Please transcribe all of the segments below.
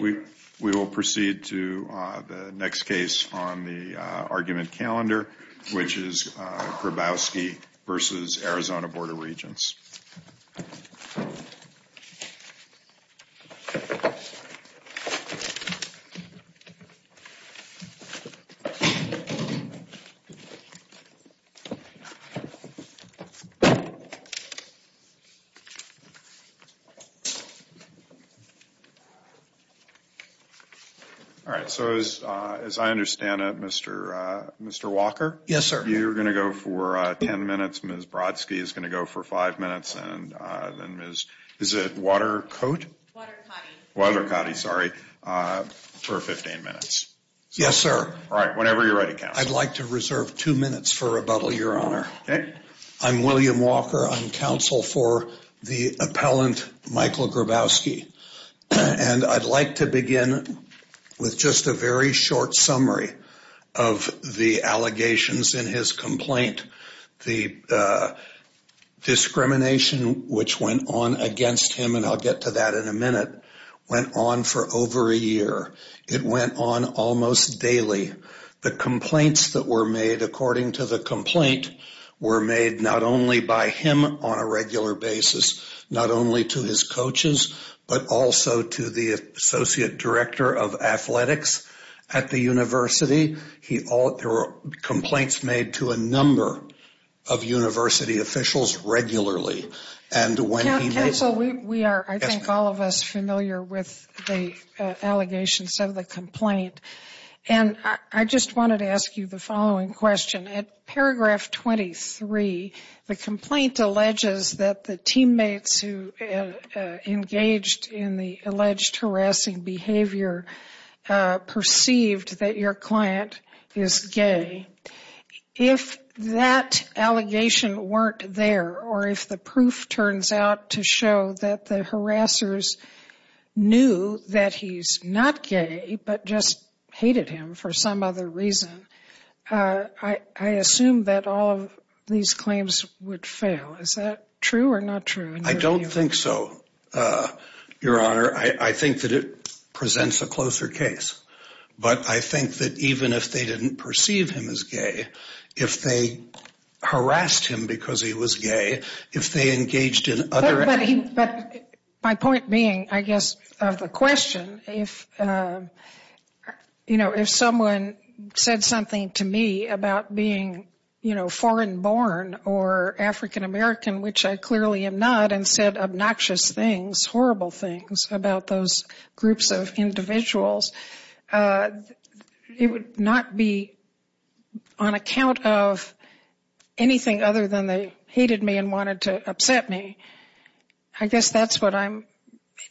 We will proceed to the next case on the argument calendar, which is Grabowski v. Arizona Board of Regents. All right, so as I understand it, Mr. Walker? Yes, sir. You're going to go for 10 minutes, Ms. Brodsky is going to go for 5 minutes, and then Ms. Watercotti for 15 minutes. Yes, sir. All right, whenever you're ready, counsel. I'd like to reserve 2 minutes for rebuttal, Your Honor. Okay. I'm William Walker. I'm counsel for the appellant, Michael Grabowski. And I'd like to begin with just a very short summary of the allegations in his complaint. The discrimination which went on against him, and I'll get to that in a minute, went on for over a year. It went on almost daily. The complaints that were made, according to the complaint, were made not only by him on a regular basis, not only to his coaches, but also to the associate director of athletics at the university. There were complaints made to a number of university officials regularly. Counsel, we are, I think, all of us familiar with the allegations of the complaint. And I just wanted to ask you the following question. At paragraph 23, the complaint alleges that the teammates who engaged in the alleged harassing behavior perceived that your client is gay. If that allegation weren't there, or if the proof turns out to show that the harassers knew that he's not gay, but just hated him for some other reason, I assume that all of these claims would fail. Is that true or not true? I don't think so, Your Honor. I think that it presents a closer case. But I think that even if they didn't perceive him as gay, if they harassed him because he was gay, if they engaged in other… It would not be on account of anything other than they hated me and wanted to upset me. I guess that's what I'm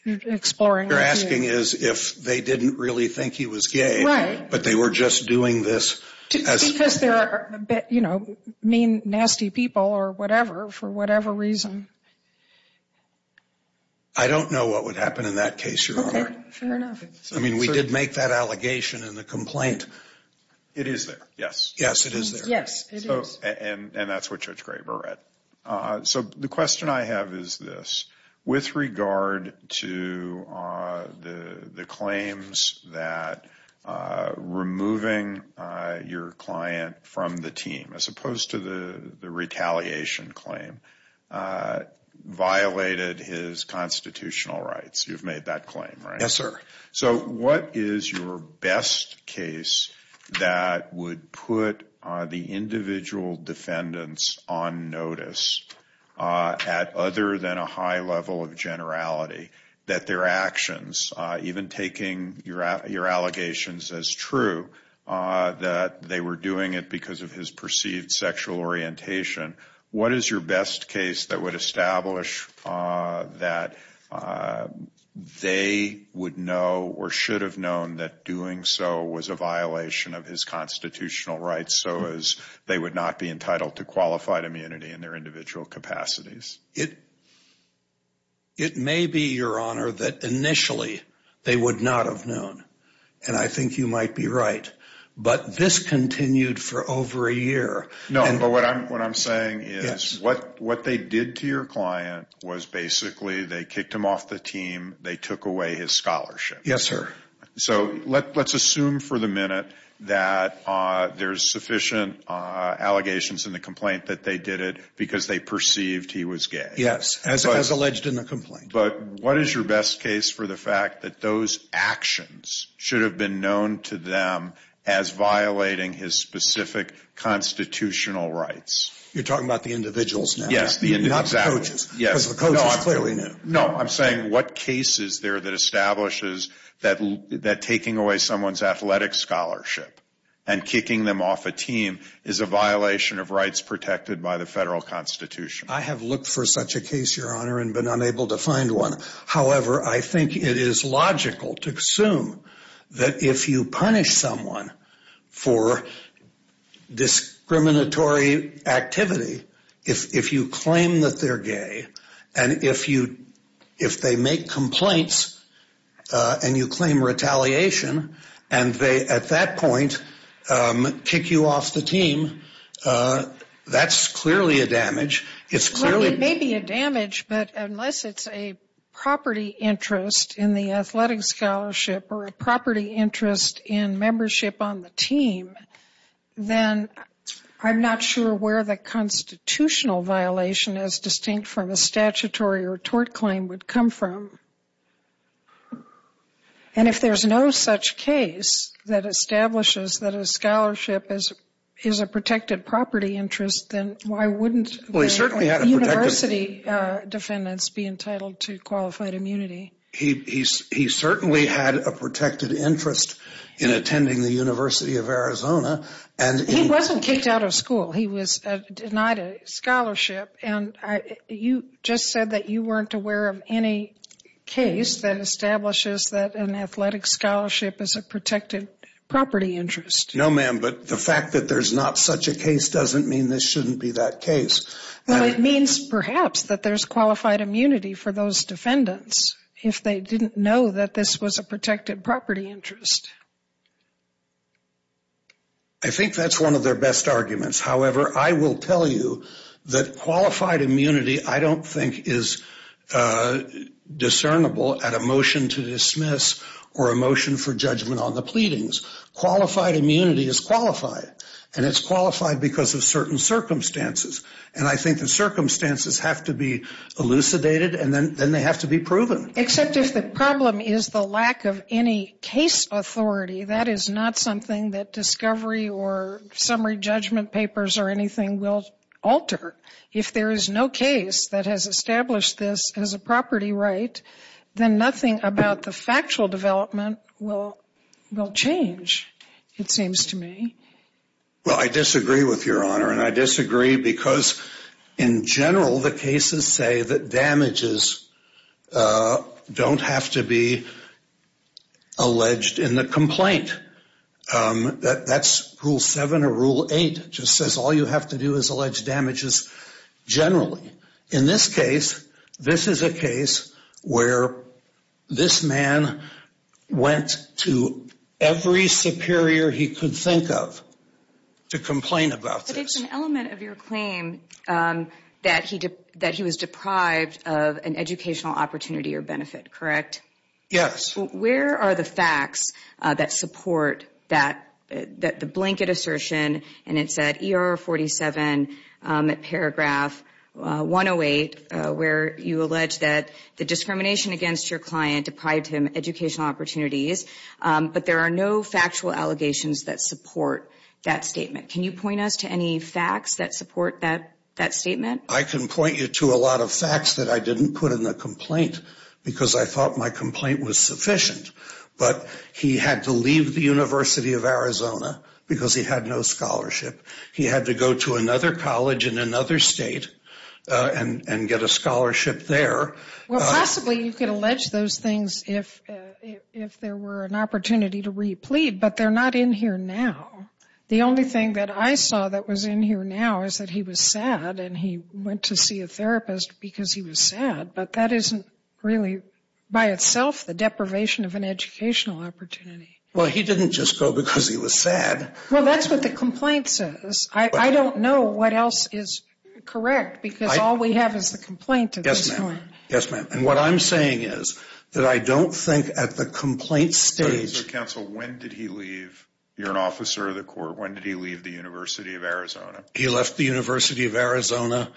exploring with you. You're asking is if they didn't really think he was gay, but they were just doing this as… Because they're, you know, mean, nasty people or whatever, for whatever reason. I don't know what would happen in that case, Your Honor. Okay, fair enough. I mean, we did make that allegation in the complaint. It is there, yes. Yes, it is there. Yes, it is. And that's what Judge Graber read. So the question I have is this. With regard to the claims that removing your client from the team, as opposed to the retaliation claim, violated his constitutional rights. You've made that claim, right? Yes, sir. So what is your best case that would put the individual defendants on notice at other than a high level of generality? That their actions, even taking your allegations as true, that they were doing it because of his perceived sexual orientation. What is your best case that would establish that they would know or should have known that doing so was a violation of his constitutional rights, so as they would not be entitled to qualified immunity in their individual capacities? It may be, Your Honor, that initially they would not have known. And I think you might be right. But this continued for over a year. No, but what I'm saying is what they did to your client was basically they kicked him off the team. They took away his scholarship. Yes, sir. So let's assume for the minute that there's sufficient allegations in the complaint that they did it because they perceived he was gay. Yes, as alleged in the complaint. But what is your best case for the fact that those actions should have been known to them as violating his specific constitutional rights? You're talking about the individuals now. Yes, the individuals. Not the coaches. Yes. Because the coaches clearly knew. No, I'm saying what case is there that establishes that taking away someone's athletic scholarship and kicking them off a team is a violation of rights protected by the federal constitution? I have looked for such a case, Your Honor, and been unable to find one. However, I think it is logical to assume that if you punish someone for discriminatory activity, if you claim that they're gay, and if they make complaints and you claim retaliation and they, at that point, kick you off the team, that's clearly a damage. It may be a damage, but unless it's a property interest in the athletic scholarship or a property interest in membership on the team, then I'm not sure where the constitutional violation, as distinct from a statutory or tort claim, would come from. And if there's no such case that establishes that a scholarship is a protected property interest, then why wouldn't the university defendants be entitled to qualified immunity? He certainly had a protected interest in attending the University of Arizona. He wasn't kicked out of school. He was denied a scholarship, and you just said that you weren't aware of any case that establishes that an athletic scholarship is a protected property interest. No, ma'am, but the fact that there's not such a case doesn't mean this shouldn't be that case. Well, it means perhaps that there's qualified immunity for those defendants if they didn't know that this was a protected property interest. I think that's one of their best arguments. However, I will tell you that qualified immunity I don't think is discernible at a motion to dismiss or a motion for judgment on the pleadings. Qualified immunity is qualified, and it's qualified because of certain circumstances. And I think the circumstances have to be elucidated, and then they have to be proven. Except if the problem is the lack of any case authority, that is not something that discovery or summary judgment papers or anything will alter. If there is no case that has established this as a property right, then nothing about the factual development will change, it seems to me. Well, I disagree with Your Honor, and I disagree because in general the cases say that damages don't have to be alleged in the complaint. That's Rule 7 or Rule 8. It just says all you have to do is allege damages generally. In this case, this is a case where this man went to every superior he could think of to complain about this. But it's an element of your claim that he was deprived of an educational opportunity or benefit, correct? Yes. Where are the facts that support the blanket assertion, and it's at ER 47, paragraph 108, where you allege that the discrimination against your client deprived him of educational opportunities, but there are no factual allegations that support that statement. Can you point us to any facts that support that statement? I can point you to a lot of facts that I didn't put in the complaint because I thought my complaint was sufficient. But he had to leave the University of Arizona because he had no scholarship. He had to go to another college in another state and get a scholarship there. Well, possibly you could allege those things if there were an opportunity to re-plead, but they're not in here now. The only thing that I saw that was in here now is that he was sad and he went to see a therapist because he was sad, but that isn't really by itself the deprivation of an educational opportunity. Well, he didn't just go because he was sad. Well, that's what the complaint says. I don't know what else is correct because all we have is the complaint at this point. Yes, ma'am. Yes, ma'am. And what I'm saying is that I don't think at the complaint stage— When did he leave the University of Arizona? He left the University of Arizona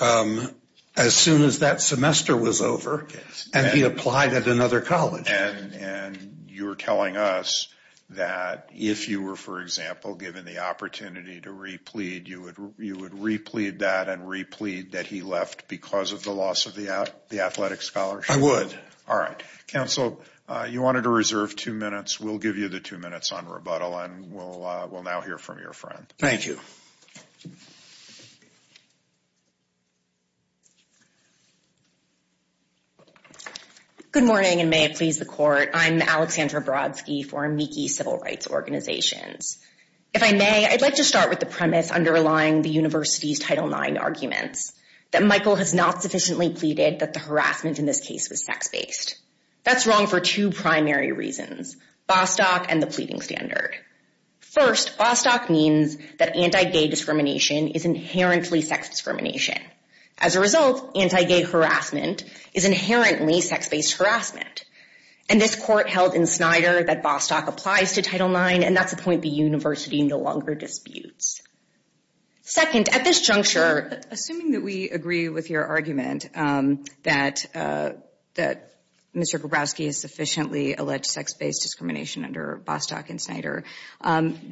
as soon as that semester was over, and he applied at another college. And you're telling us that if you were, for example, given the opportunity to re-plead, you would re-plead that and re-plead that he left because of the loss of the athletic scholarship? I would. All right. Counsel, you wanted to reserve two minutes. We'll give you the two minutes on rebuttal, and we'll now hear from your friend. Thank you. Good morning, and may it please the Court. I'm Alexandra Brodsky for Amici Civil Rights Organizations. If I may, I'd like to start with the premise underlying the university's Title IX arguments, that Michael has not sufficiently pleaded that the harassment in this case was sex-based. That's wrong for two primary reasons, Bostock and the pleading standard. First, Bostock means that anti-gay discrimination is inherently sex discrimination. As a result, anti-gay harassment is inherently sex-based harassment. And this Court held in Snyder that Bostock applies to Title IX, and that's a point the university no longer disputes. Second, at this juncture, assuming that we agree with your argument that Mr. Brodsky has sufficiently alleged sex-based discrimination under Bostock and Snyder,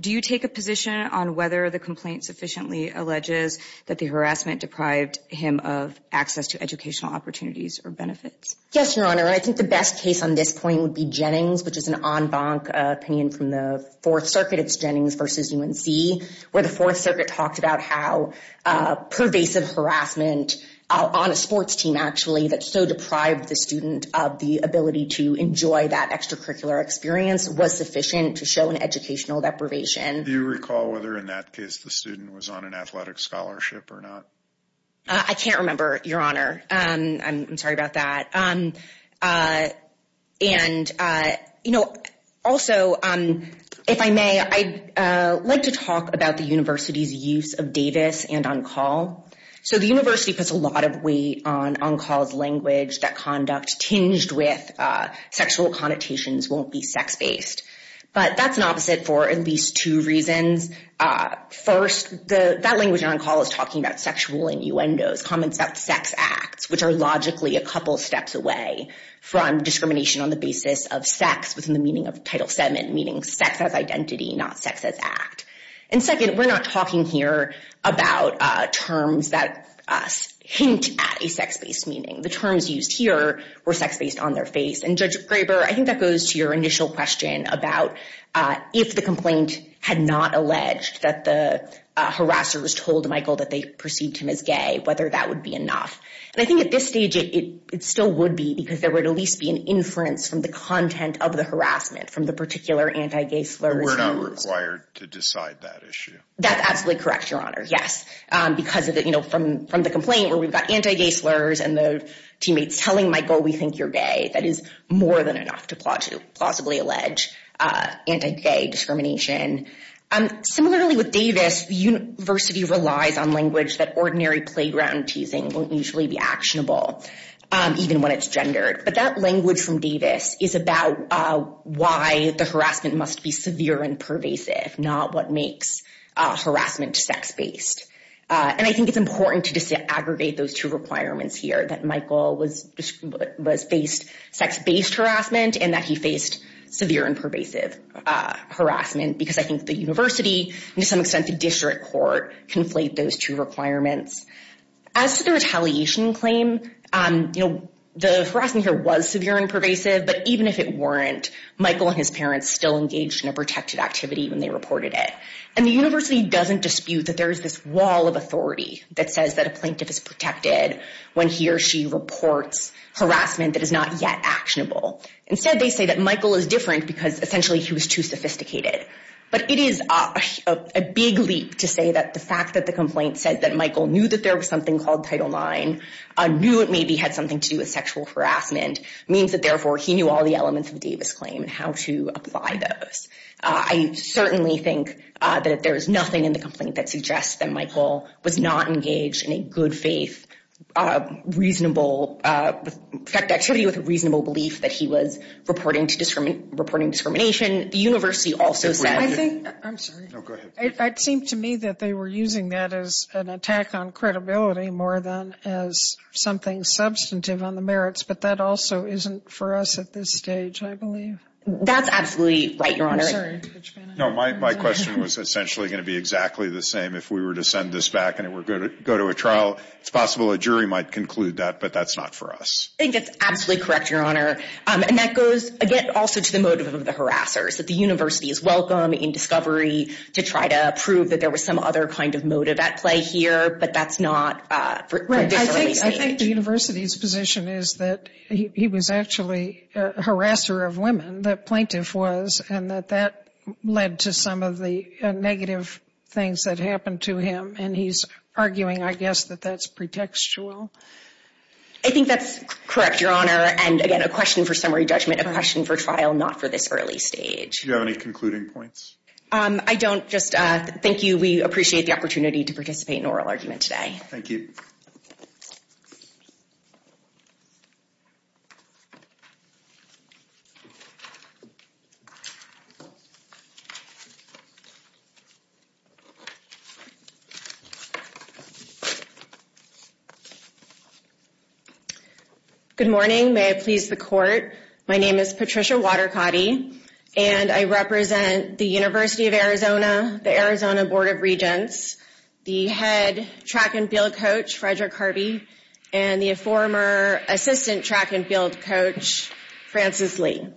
do you take a position on whether the complaint sufficiently alleges that the harassment deprived him of access to educational opportunities or benefits? Yes, Your Honor. I think the best case on this point would be Jennings, which is an en banc opinion from the Fourth Circuit. It's Jennings v. UNC, where the Fourth Circuit talked about how pervasive harassment on a sports team, actually, that so deprived the student of the ability to enjoy that extracurricular experience was sufficient to show an educational deprivation. Do you recall whether in that case the student was on an athletic scholarship or not? I can't remember, Your Honor. I'm sorry about that. And, you know, also, if I may, I'd like to talk about the university's use of Davis and On Call. So the university puts a lot of weight on On Call's language, that conduct tinged with sexual connotations won't be sex-based. But that's an opposite for at least two reasons. First, that language in On Call is talking about sexual innuendos, comments about sex acts, which are logically a couple steps away from discrimination on the basis of sex, within the meaning of Title VII, meaning sex as identity, not sex as act. And second, we're not talking here about terms that hint at a sex-based meaning. The terms used here were sex-based on their face. And, Judge Graber, I think that goes to your initial question about if the complaint had not alleged that the harassers told Michael that they perceived him as gay, whether that would be enough. And I think at this stage, it still would be because there would at least be an inference from the content of the harassment, from the particular anti-gay slurs. But we're not required to decide that issue. That's absolutely correct, Your Honor, yes. Because, you know, from the complaint where we've got anti-gay slurs and the teammates telling Michael we think you're gay, that is more than enough to plausibly allege anti-gay discrimination. Similarly with Davis, the university relies on language that ordinary playground teasing won't usually be actionable, even when it's gendered. But that language from Davis is about why the harassment must be severe and pervasive, not what makes harassment sex-based. And I think it's important to disaggregate those two requirements here, that Michael was faced sex-based harassment and that he faced severe and pervasive harassment because I think the university and to some extent the district court conflate those two requirements. As to the retaliation claim, you know, the harassment here was severe and pervasive, but even if it weren't, Michael and his parents still engaged in a protected activity when they reported it. And the university doesn't dispute that there is this wall of authority that says that a plaintiff is protected when he or she reports harassment that is not yet actionable. Instead they say that Michael is different because essentially he was too sophisticated. But it is a big leap to say that the fact that the complaint said that Michael knew that there was something called Title IX, knew it maybe had something to do with sexual harassment, means that therefore he knew all the elements of Davis' claim and how to apply those. I certainly think that there is nothing in the complaint that suggests that Michael was not engaged in a good faith, reasonable, protected activity with a reasonable belief that he was reporting discrimination. The university also said. I think, I'm sorry. No, go ahead. It seemed to me that they were using that as an attack on credibility more than as something substantive on the merits, but that also isn't for us at this stage, I believe. That's absolutely right, Your Honor. I'm sorry. No, my question was essentially going to be exactly the same. If we were to send this back and it were to go to a trial, it's possible a jury might conclude that, but that's not for us. I think that's absolutely correct, Your Honor. And that goes, again, also to the motive of the harassers. That the university is welcome in discovery to try to prove that there was some other kind of motive at play here, but that's not for this early stage. Right. I think the university's position is that he was actually a harasser of women, the plaintiff was, and that that led to some of the negative things that happened to him. And he's arguing, I guess, that that's pretextual. I think that's correct, Your Honor. And, again, a question for summary judgment, a question for trial, not for this early stage. Do you have any concluding points? I don't. Just thank you. We appreciate the opportunity to participate in oral argument today. Thank you. Thank you. Good morning. May it please the Court. My name is Patricia Watercotty, and I represent the University of Arizona, the Arizona Board of Regents, the head track and field coach, Frederick Harvey, and the former assistant track and field coach, Francis Lee.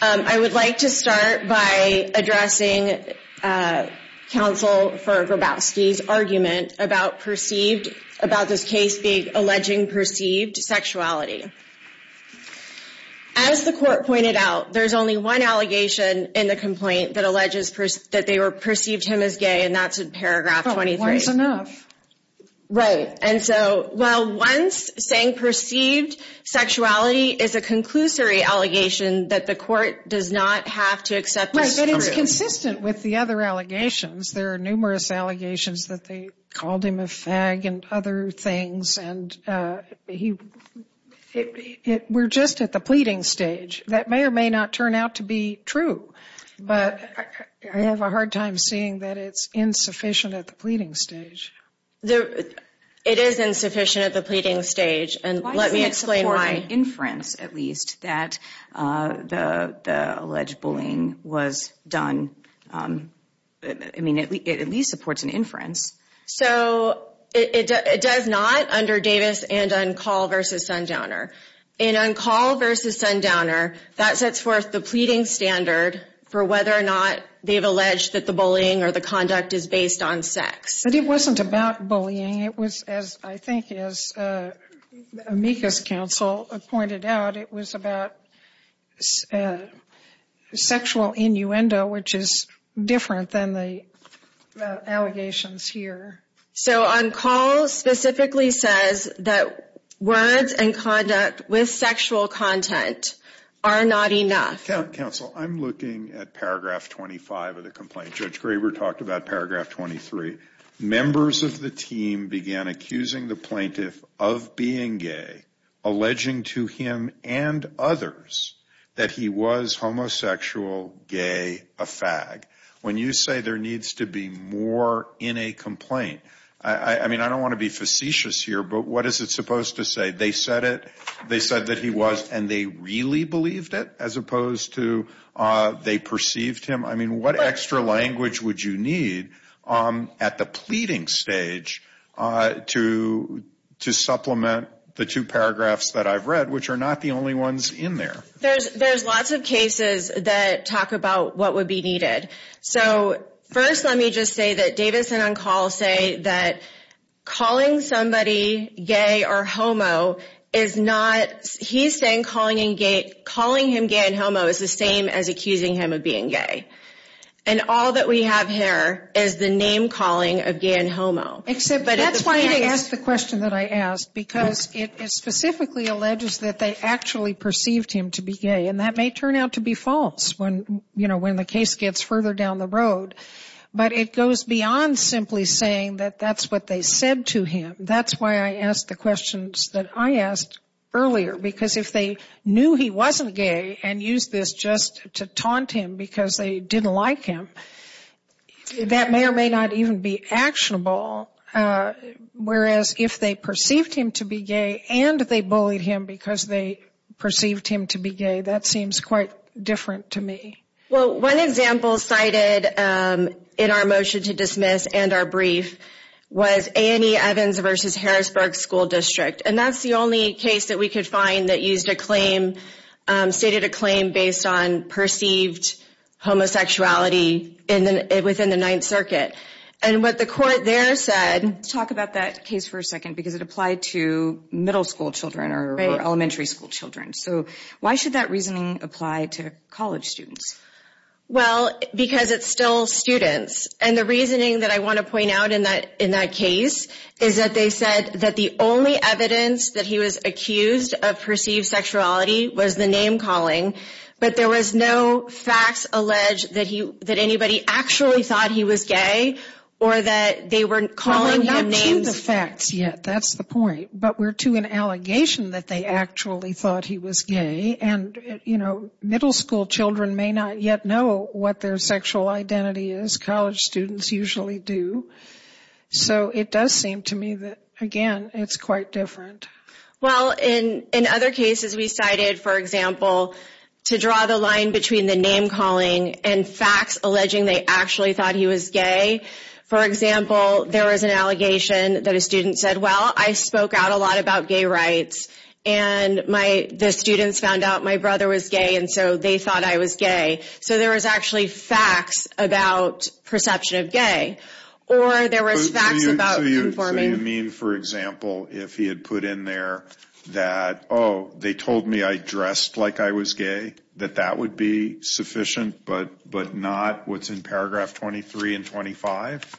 I would like to start by addressing counsel Fergrabowski's argument about perceived, about this case being alleging perceived sexuality. As the Court pointed out, there's only one allegation in the complaint that alleges that they perceived him as gay, and that's in paragraph 23. Well, once enough. Right. But it's consistent with the other allegations. There are numerous allegations that they called him a fag and other things, and we're just at the pleading stage. That may or may not turn out to be true, but I have a hard time seeing that it's insufficient at the pleading stage. It is insufficient at the pleading stage. Why does it support an inference, at least, that the alleged bullying was done? I mean, it at least supports an inference. So it does not under Davis and Uncall v. Sundowner. In Uncall v. Sundowner, that sets forth the pleading standard for whether or not they've alleged that the bullying or the conduct is based on sex. But it wasn't about bullying. It was, as I think as amicus counsel pointed out, it was about sexual innuendo, which is different than the allegations here. So Uncall specifically says that words and conduct with sexual content are not enough. Counsel, I'm looking at paragraph 25 of the complaint. Judge Graber talked about paragraph 23. Members of the team began accusing the plaintiff of being gay, alleging to him and others that he was homosexual, gay, a fag. When you say there needs to be more in a complaint, I mean, I don't want to be facetious here, but what is it supposed to say? They said it. They said that he was, and they really believed it as opposed to they perceived him. I mean, what extra language would you need at the pleading stage to supplement the two paragraphs that I've read, which are not the only ones in there? There's lots of cases that talk about what would be needed. So first, let me just say that Davis and Uncall say that calling somebody gay or homo is not, he's saying calling him gay and homo is the same as accusing him of being gay. And all that we have here is the name calling of gay and homo. Except that's why I asked the question that I asked, because it specifically alleges that they actually perceived him to be gay. And that may turn out to be false when, you know, when the case gets further down the road. But it goes beyond simply saying that that's what they said to him. That's why I asked the questions that I asked earlier. Because if they knew he wasn't gay and used this just to taunt him because they didn't like him, that may or may not even be actionable. Whereas if they perceived him to be gay and they bullied him because they perceived him to be gay, that seems quite different to me. Well, one example cited in our motion to dismiss and our brief was Annie Evans v. Harrisburg School District. And that's the only case that we could find that used a claim, stated a claim based on perceived homosexuality within the Ninth Circuit. And what the court there said... Let's talk about that case for a second, because it applied to middle school children or elementary school children. So why should that reasoning apply to college students? Well, because it's still students. And the reasoning that I want to point out in that case is that they said that the only evidence that he was accused of perceived sexuality was the name calling. But there was no facts alleged that anybody actually thought he was gay or that they were calling him names. Well, we're not to the facts yet. That's the point. But we're to an allegation that they actually thought he was gay. And, you know, middle school children may not yet know what their sexual identity is. College students usually do. So it does seem to me that, again, it's quite different. Well, in other cases we cited, for example, to draw the line between the name calling and facts alleging they actually thought he was gay. For example, there was an allegation that a student said, well, I spoke out a lot about gay rights. And the students found out my brother was gay, and so they thought I was gay. So there was actually facts about perception of gay. Or there was facts about conforming. So you mean, for example, if he had put in there that, oh, they told me I dressed like I was gay, that that would be sufficient but not what's in paragraph 23 and 25?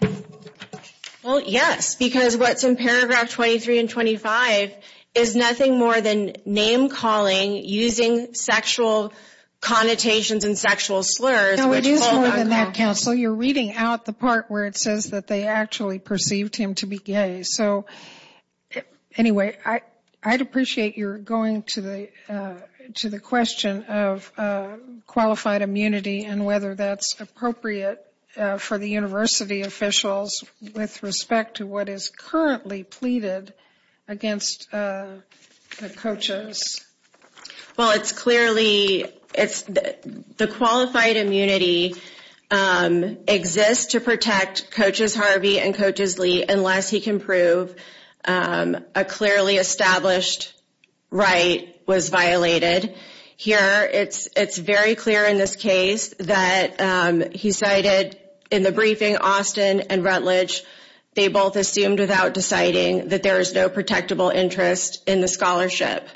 Well, yes. Because what's in paragraph 23 and 25 is nothing more than name calling using sexual connotations and sexual slurs. No, it is more than that, counsel. You're reading out the part where it says that they actually perceived him to be gay. So anyway, I'd appreciate your going to the question of qualified immunity and whether that's appropriate for the university officials with respect to what is currently pleaded against the coaches. Well, it's clearly it's the qualified immunity exists to protect coaches Harvey and coaches Lee unless he can prove a clearly established right was violated here. It's it's very clear in this case that he cited in the briefing Austin and Rutledge. They both assumed without deciding that there is no protectable interest in the scholarship.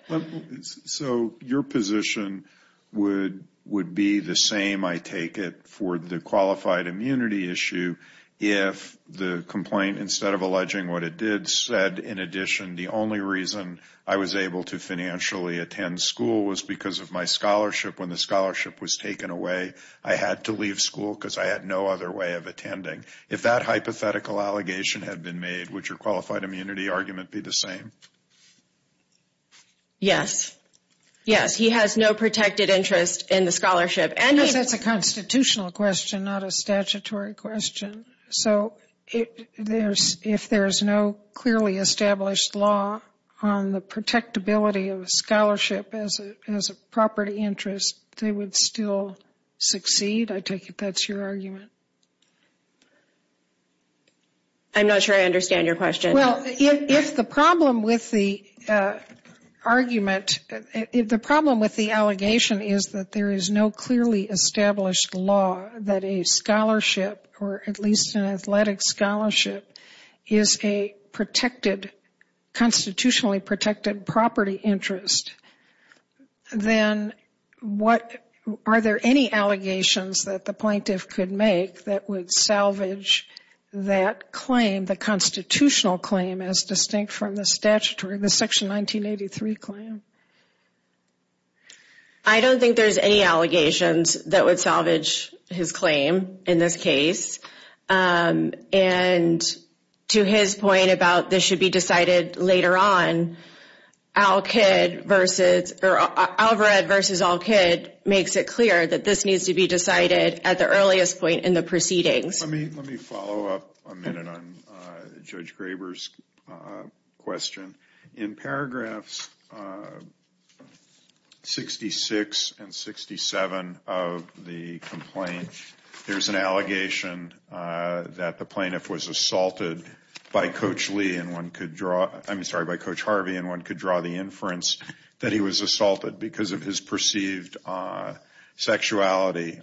So your position would would be the same. I take it for the qualified immunity issue. If the complaint, instead of alleging what it did said, in addition, the only reason I was able to financially attend school was because of my scholarship. When the scholarship was taken away, I had to leave school because I had no other way of attending. If that hypothetical allegation had been made, would your qualified immunity argument be the same? Yes, yes, he has no protected interest in the scholarship. And that's a constitutional question, not a statutory question. So if there's if there is no clearly established law on the protectability of a scholarship as a property interest, they would still succeed. I take it that's your argument. I'm not sure I understand your question. Well, if the problem with the argument, if the problem with the allegation is that there is no clearly established law that a scholarship or at least an athletic scholarship is a protected constitutionally protected property interest. Then what are there any allegations that the plaintiff could make that would salvage that claim? The constitutional claim is distinct from the statutory, the Section 1983 claim. I don't think there's any allegations that would salvage his claim in this case. And to his point about this should be decided later on, Al Kidd versus Alvarez versus Al Kidd makes it clear that this needs to be decided at the earliest point in the proceedings. Let me let me follow up a minute on Judge Graber's question. In paragraphs 66 and 67 of the complaint, there's an allegation that the plaintiff was assaulted by Coach Lee and one could draw. I'm sorry, by Coach Harvey. And one could draw the inference that he was assaulted because of his perceived sexuality.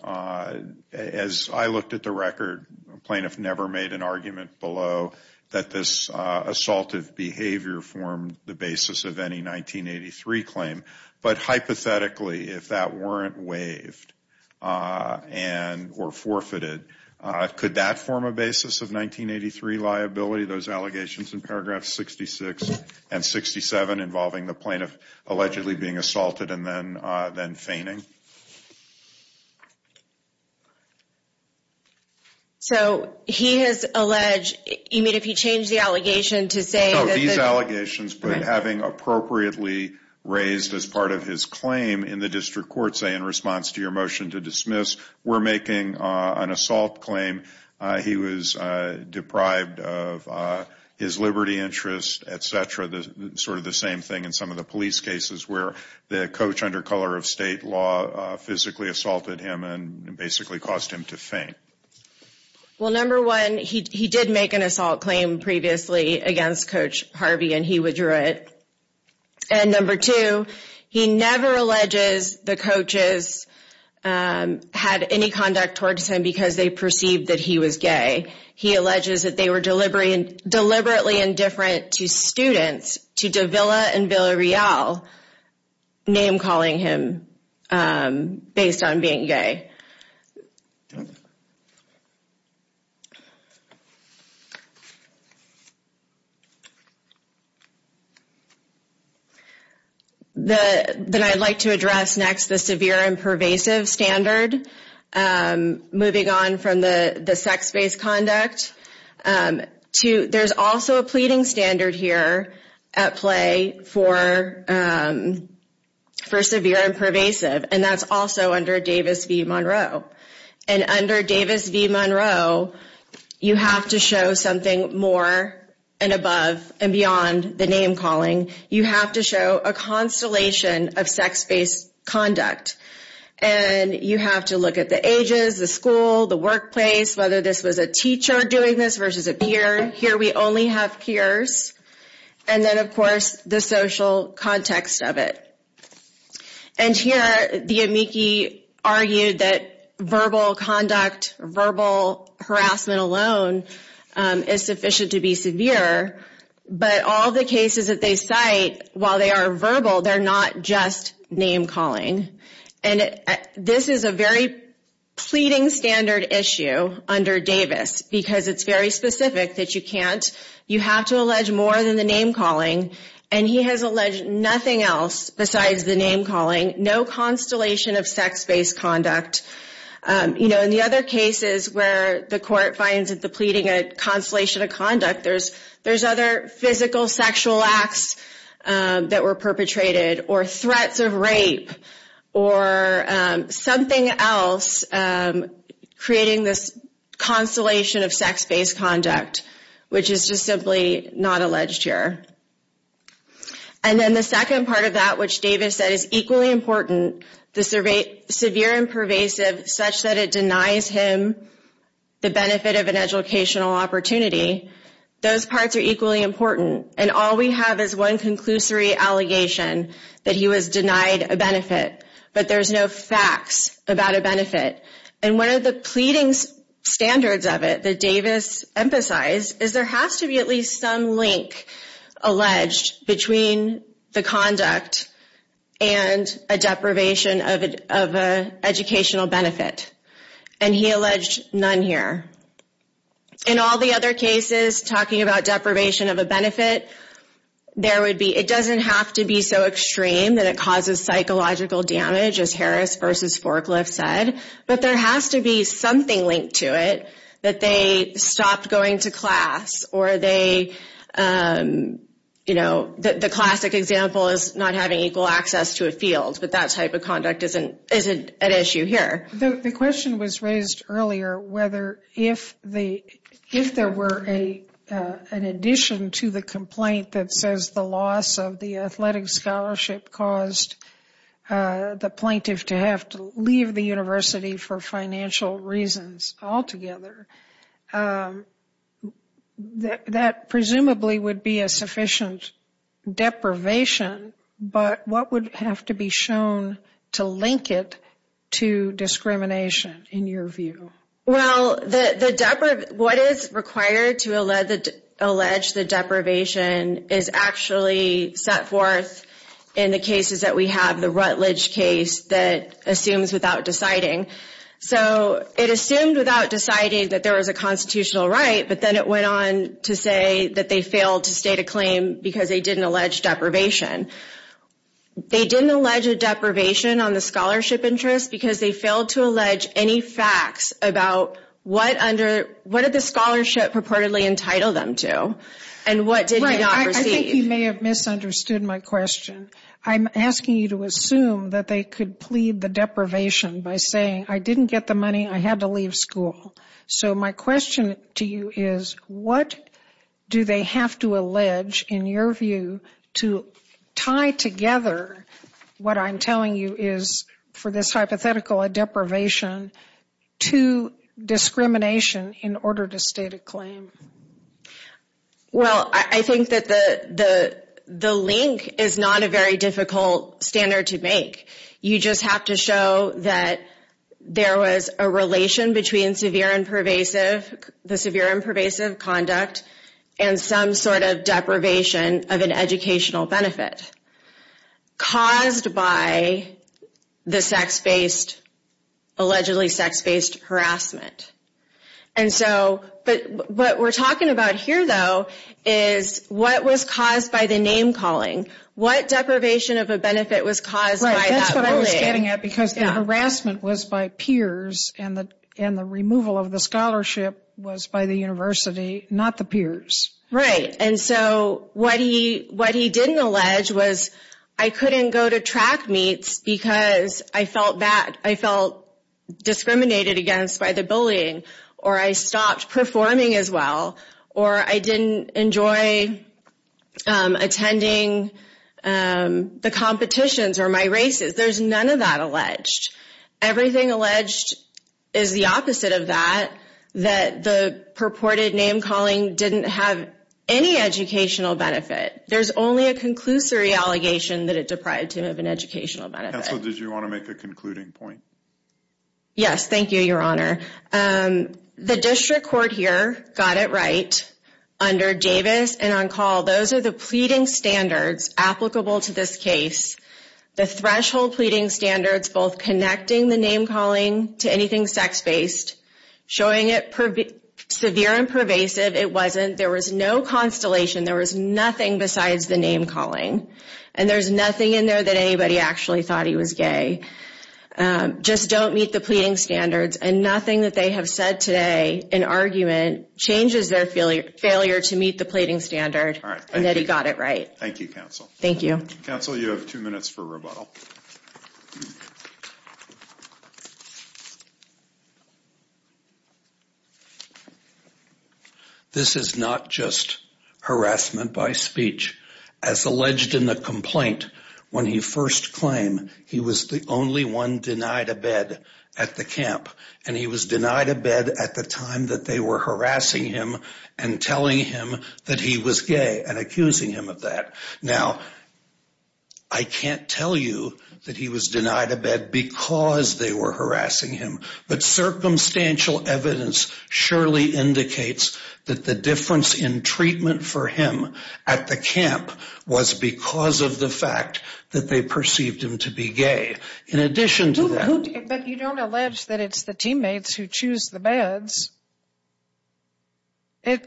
As I looked at the record, a plaintiff never made an argument below that this assaultive behavior formed the basis of any 1983 claim. But hypothetically, if that weren't waived and or forfeited, could that form a basis of 1983 liability? Those allegations in paragraphs 66 and 67 involving the plaintiff allegedly being assaulted and then then feigning. So he has alleged you mean if he changed the allegation to say these allegations, but having appropriately raised as part of his claim in the district court, say, in response to your motion to dismiss, we're making an assault claim. He was deprived of his liberty, interest, et cetera. The sort of the same thing in some of the police cases where the coach under color of state law physically assaulted him and basically caused him to faint. Well, number one, he did make an assault claim previously against Coach Harvey and he withdrew it. And number two, he never alleges the coaches had any conduct towards him because they perceived that he was gay. He alleges that they were deliberately indifferent to students, to Davila and Villarreal, name calling him based on being gay. The then I'd like to address next, the severe and pervasive standard moving on from the sex based conduct to there's also a pleading standard here at play for for severe and pervasive. And that's also under Davis v. Monroe. And under Davis v. Monroe, you have to show something more and above and beyond the name calling. You have to show a constellation of sex based conduct and you have to look at the ages, the school, the workplace, whether this was a teacher doing this versus a peer. Here we only have peers. And then, of course, the social context of it. And here the amici argued that verbal conduct, verbal harassment alone is sufficient to be severe. But all the cases that they cite, while they are verbal, they're not just name calling. And this is a very pleading standard issue under Davis because it's very specific that you can't. And he has alleged nothing else besides the name calling. No constellation of sex based conduct. You know, in the other cases where the court finds that the pleading a constellation of conduct, there's there's other physical sexual acts that were perpetrated or threats of rape or something else creating this constellation of sex based conduct, which is just simply not alleged here. And then the second part of that, which Davis said is equally important to survey severe and pervasive such that it denies him the benefit of an educational opportunity. Those parts are equally important. And all we have is one conclusory allegation that he was denied a benefit. But there's no facts about a benefit. And one of the pleadings standards of it that Davis emphasized is there has to be at least some link alleged between the conduct and a deprivation of an educational benefit. And he alleged none here. In all the other cases, talking about deprivation of a benefit, there would be it doesn't have to be so extreme that it causes psychological damage, as Harris versus Forklift said. But there has to be something linked to it that they stopped going to class or they, you know, the classic example is not having equal access to a field. But that type of conduct isn't isn't an issue here. The question was raised earlier, whether if the if there were a an addition to the complaint that says the loss of the athletic scholarship caused the plaintiff to have to leave the university for financial reasons altogether, that presumably would be a sufficient deprivation. But what would have to be shown to link it to discrimination, in your view? Well, the what is required to allege that allege the deprivation is actually set forth in the cases that we have the Rutledge case that assumes without deciding. So it assumed without deciding that there was a constitutional right. But then it went on to say that they failed to state a claim because they didn't allege deprivation. They didn't allege a deprivation on the scholarship interest because they failed to allege any facts about what under what did the scholarship purportedly entitled them to and what did you not receive? You may have misunderstood my question. I'm asking you to assume that they could plead the deprivation by saying, I didn't get the money. I had to leave school. So my question to you is, what do they have to allege, in your view, to tie together what I'm telling you is for this hypothetical a deprivation to discrimination in order to state a claim? Well, I think that the link is not a very difficult standard to make. You just have to show that there was a relation between the severe and pervasive conduct and some sort of deprivation of an educational benefit caused by the sex-based, allegedly sex-based harassment. But what we're talking about here, though, is what was caused by the name-calling. What deprivation of a benefit was caused by that bullying? Right, that's what I was getting at because the harassment was by peers and the removal of the scholarship was by the university, not the peers. Right, and so what he didn't allege was, I couldn't go to track meets because I felt discriminated against by the bullying, or I stopped performing as well, or I didn't enjoy attending the competitions or my races. There's none of that alleged. Everything alleged is the opposite of that, that the purported name-calling didn't have any educational benefit. There's only a conclusory allegation that it deprived him of an educational benefit. Counsel, did you want to make a concluding point? Yes, thank you, Your Honor. The district court here got it right under Davis and on call. Those are the pleading standards applicable to this case. The threshold pleading standards both connecting the name-calling to anything sex-based, showing it severe and pervasive. It wasn't, there was no constellation. There was nothing besides the name-calling, and there's nothing in there that anybody actually thought he was gay. Just don't meet the pleading standards, and nothing that they have said today in argument changes their failure to meet the pleading standard and that he got it right. Thank you, counsel. Thank you. Counsel, you have two minutes for rebuttal. This is not just harassment by speech. As alleged in the complaint, when he first claimed he was the only one denied a bed at the camp, and he was denied a bed at the time that they were harassing him and telling him that he was gay and accusing him of that. Now, I can't tell you that he was denied a bed because they were harassing him, but circumstantial evidence surely indicates that the difference in treatment for him at the camp was because of the fact that they perceived him to be gay. In addition to that— But you don't allege that it's the teammates who choose the beds. I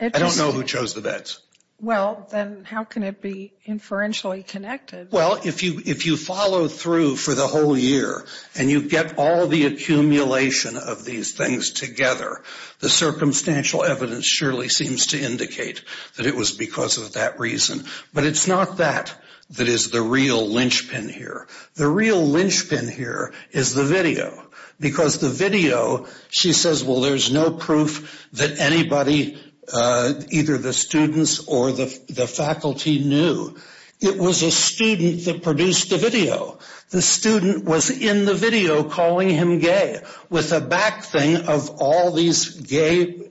don't know who chose the beds. Well, then how can it be inferentially connected? Well, if you follow through for the whole year and you get all the accumulation of these things together, the circumstantial evidence surely seems to indicate that it was because of that reason. But it's not that that is the real linchpin here. The real linchpin here is the video, because the video, she says, well, there's no proof that anybody, either the students or the faculty, knew. It was a student that produced the video. The student was in the video calling him gay with a back thing of all these gay—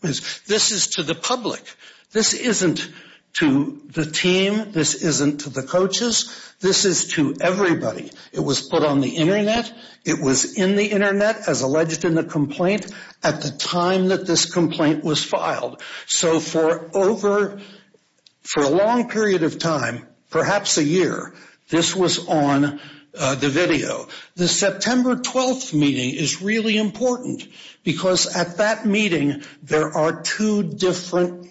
This is to the public. This isn't to the team. This isn't to the coaches. This is to everybody. It was put on the Internet. It was in the Internet, as alleged in the complaint, at the time that this complaint was filed. So for over—for a long period of time, perhaps a year, this was on the video. The September 12th meeting is really important, because at that meeting there are two different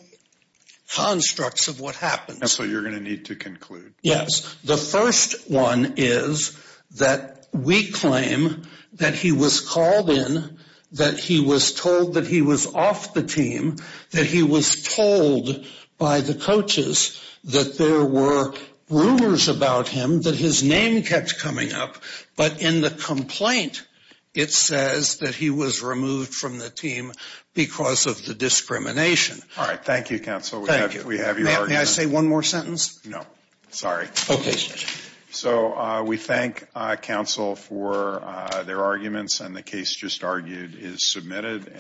constructs of what happened. That's what you're going to need to conclude. Yes. The first one is that we claim that he was called in, that he was told that he was off the team, that he was told by the coaches that there were rumors about him, that his name kept coming up. But in the complaint, it says that he was removed from the team because of the discrimination. All right. Thank you, counsel. Thank you. We have your argument. No. Sorry. Okay, sir. So we thank counsel for their arguments, and the case just argued is submitted.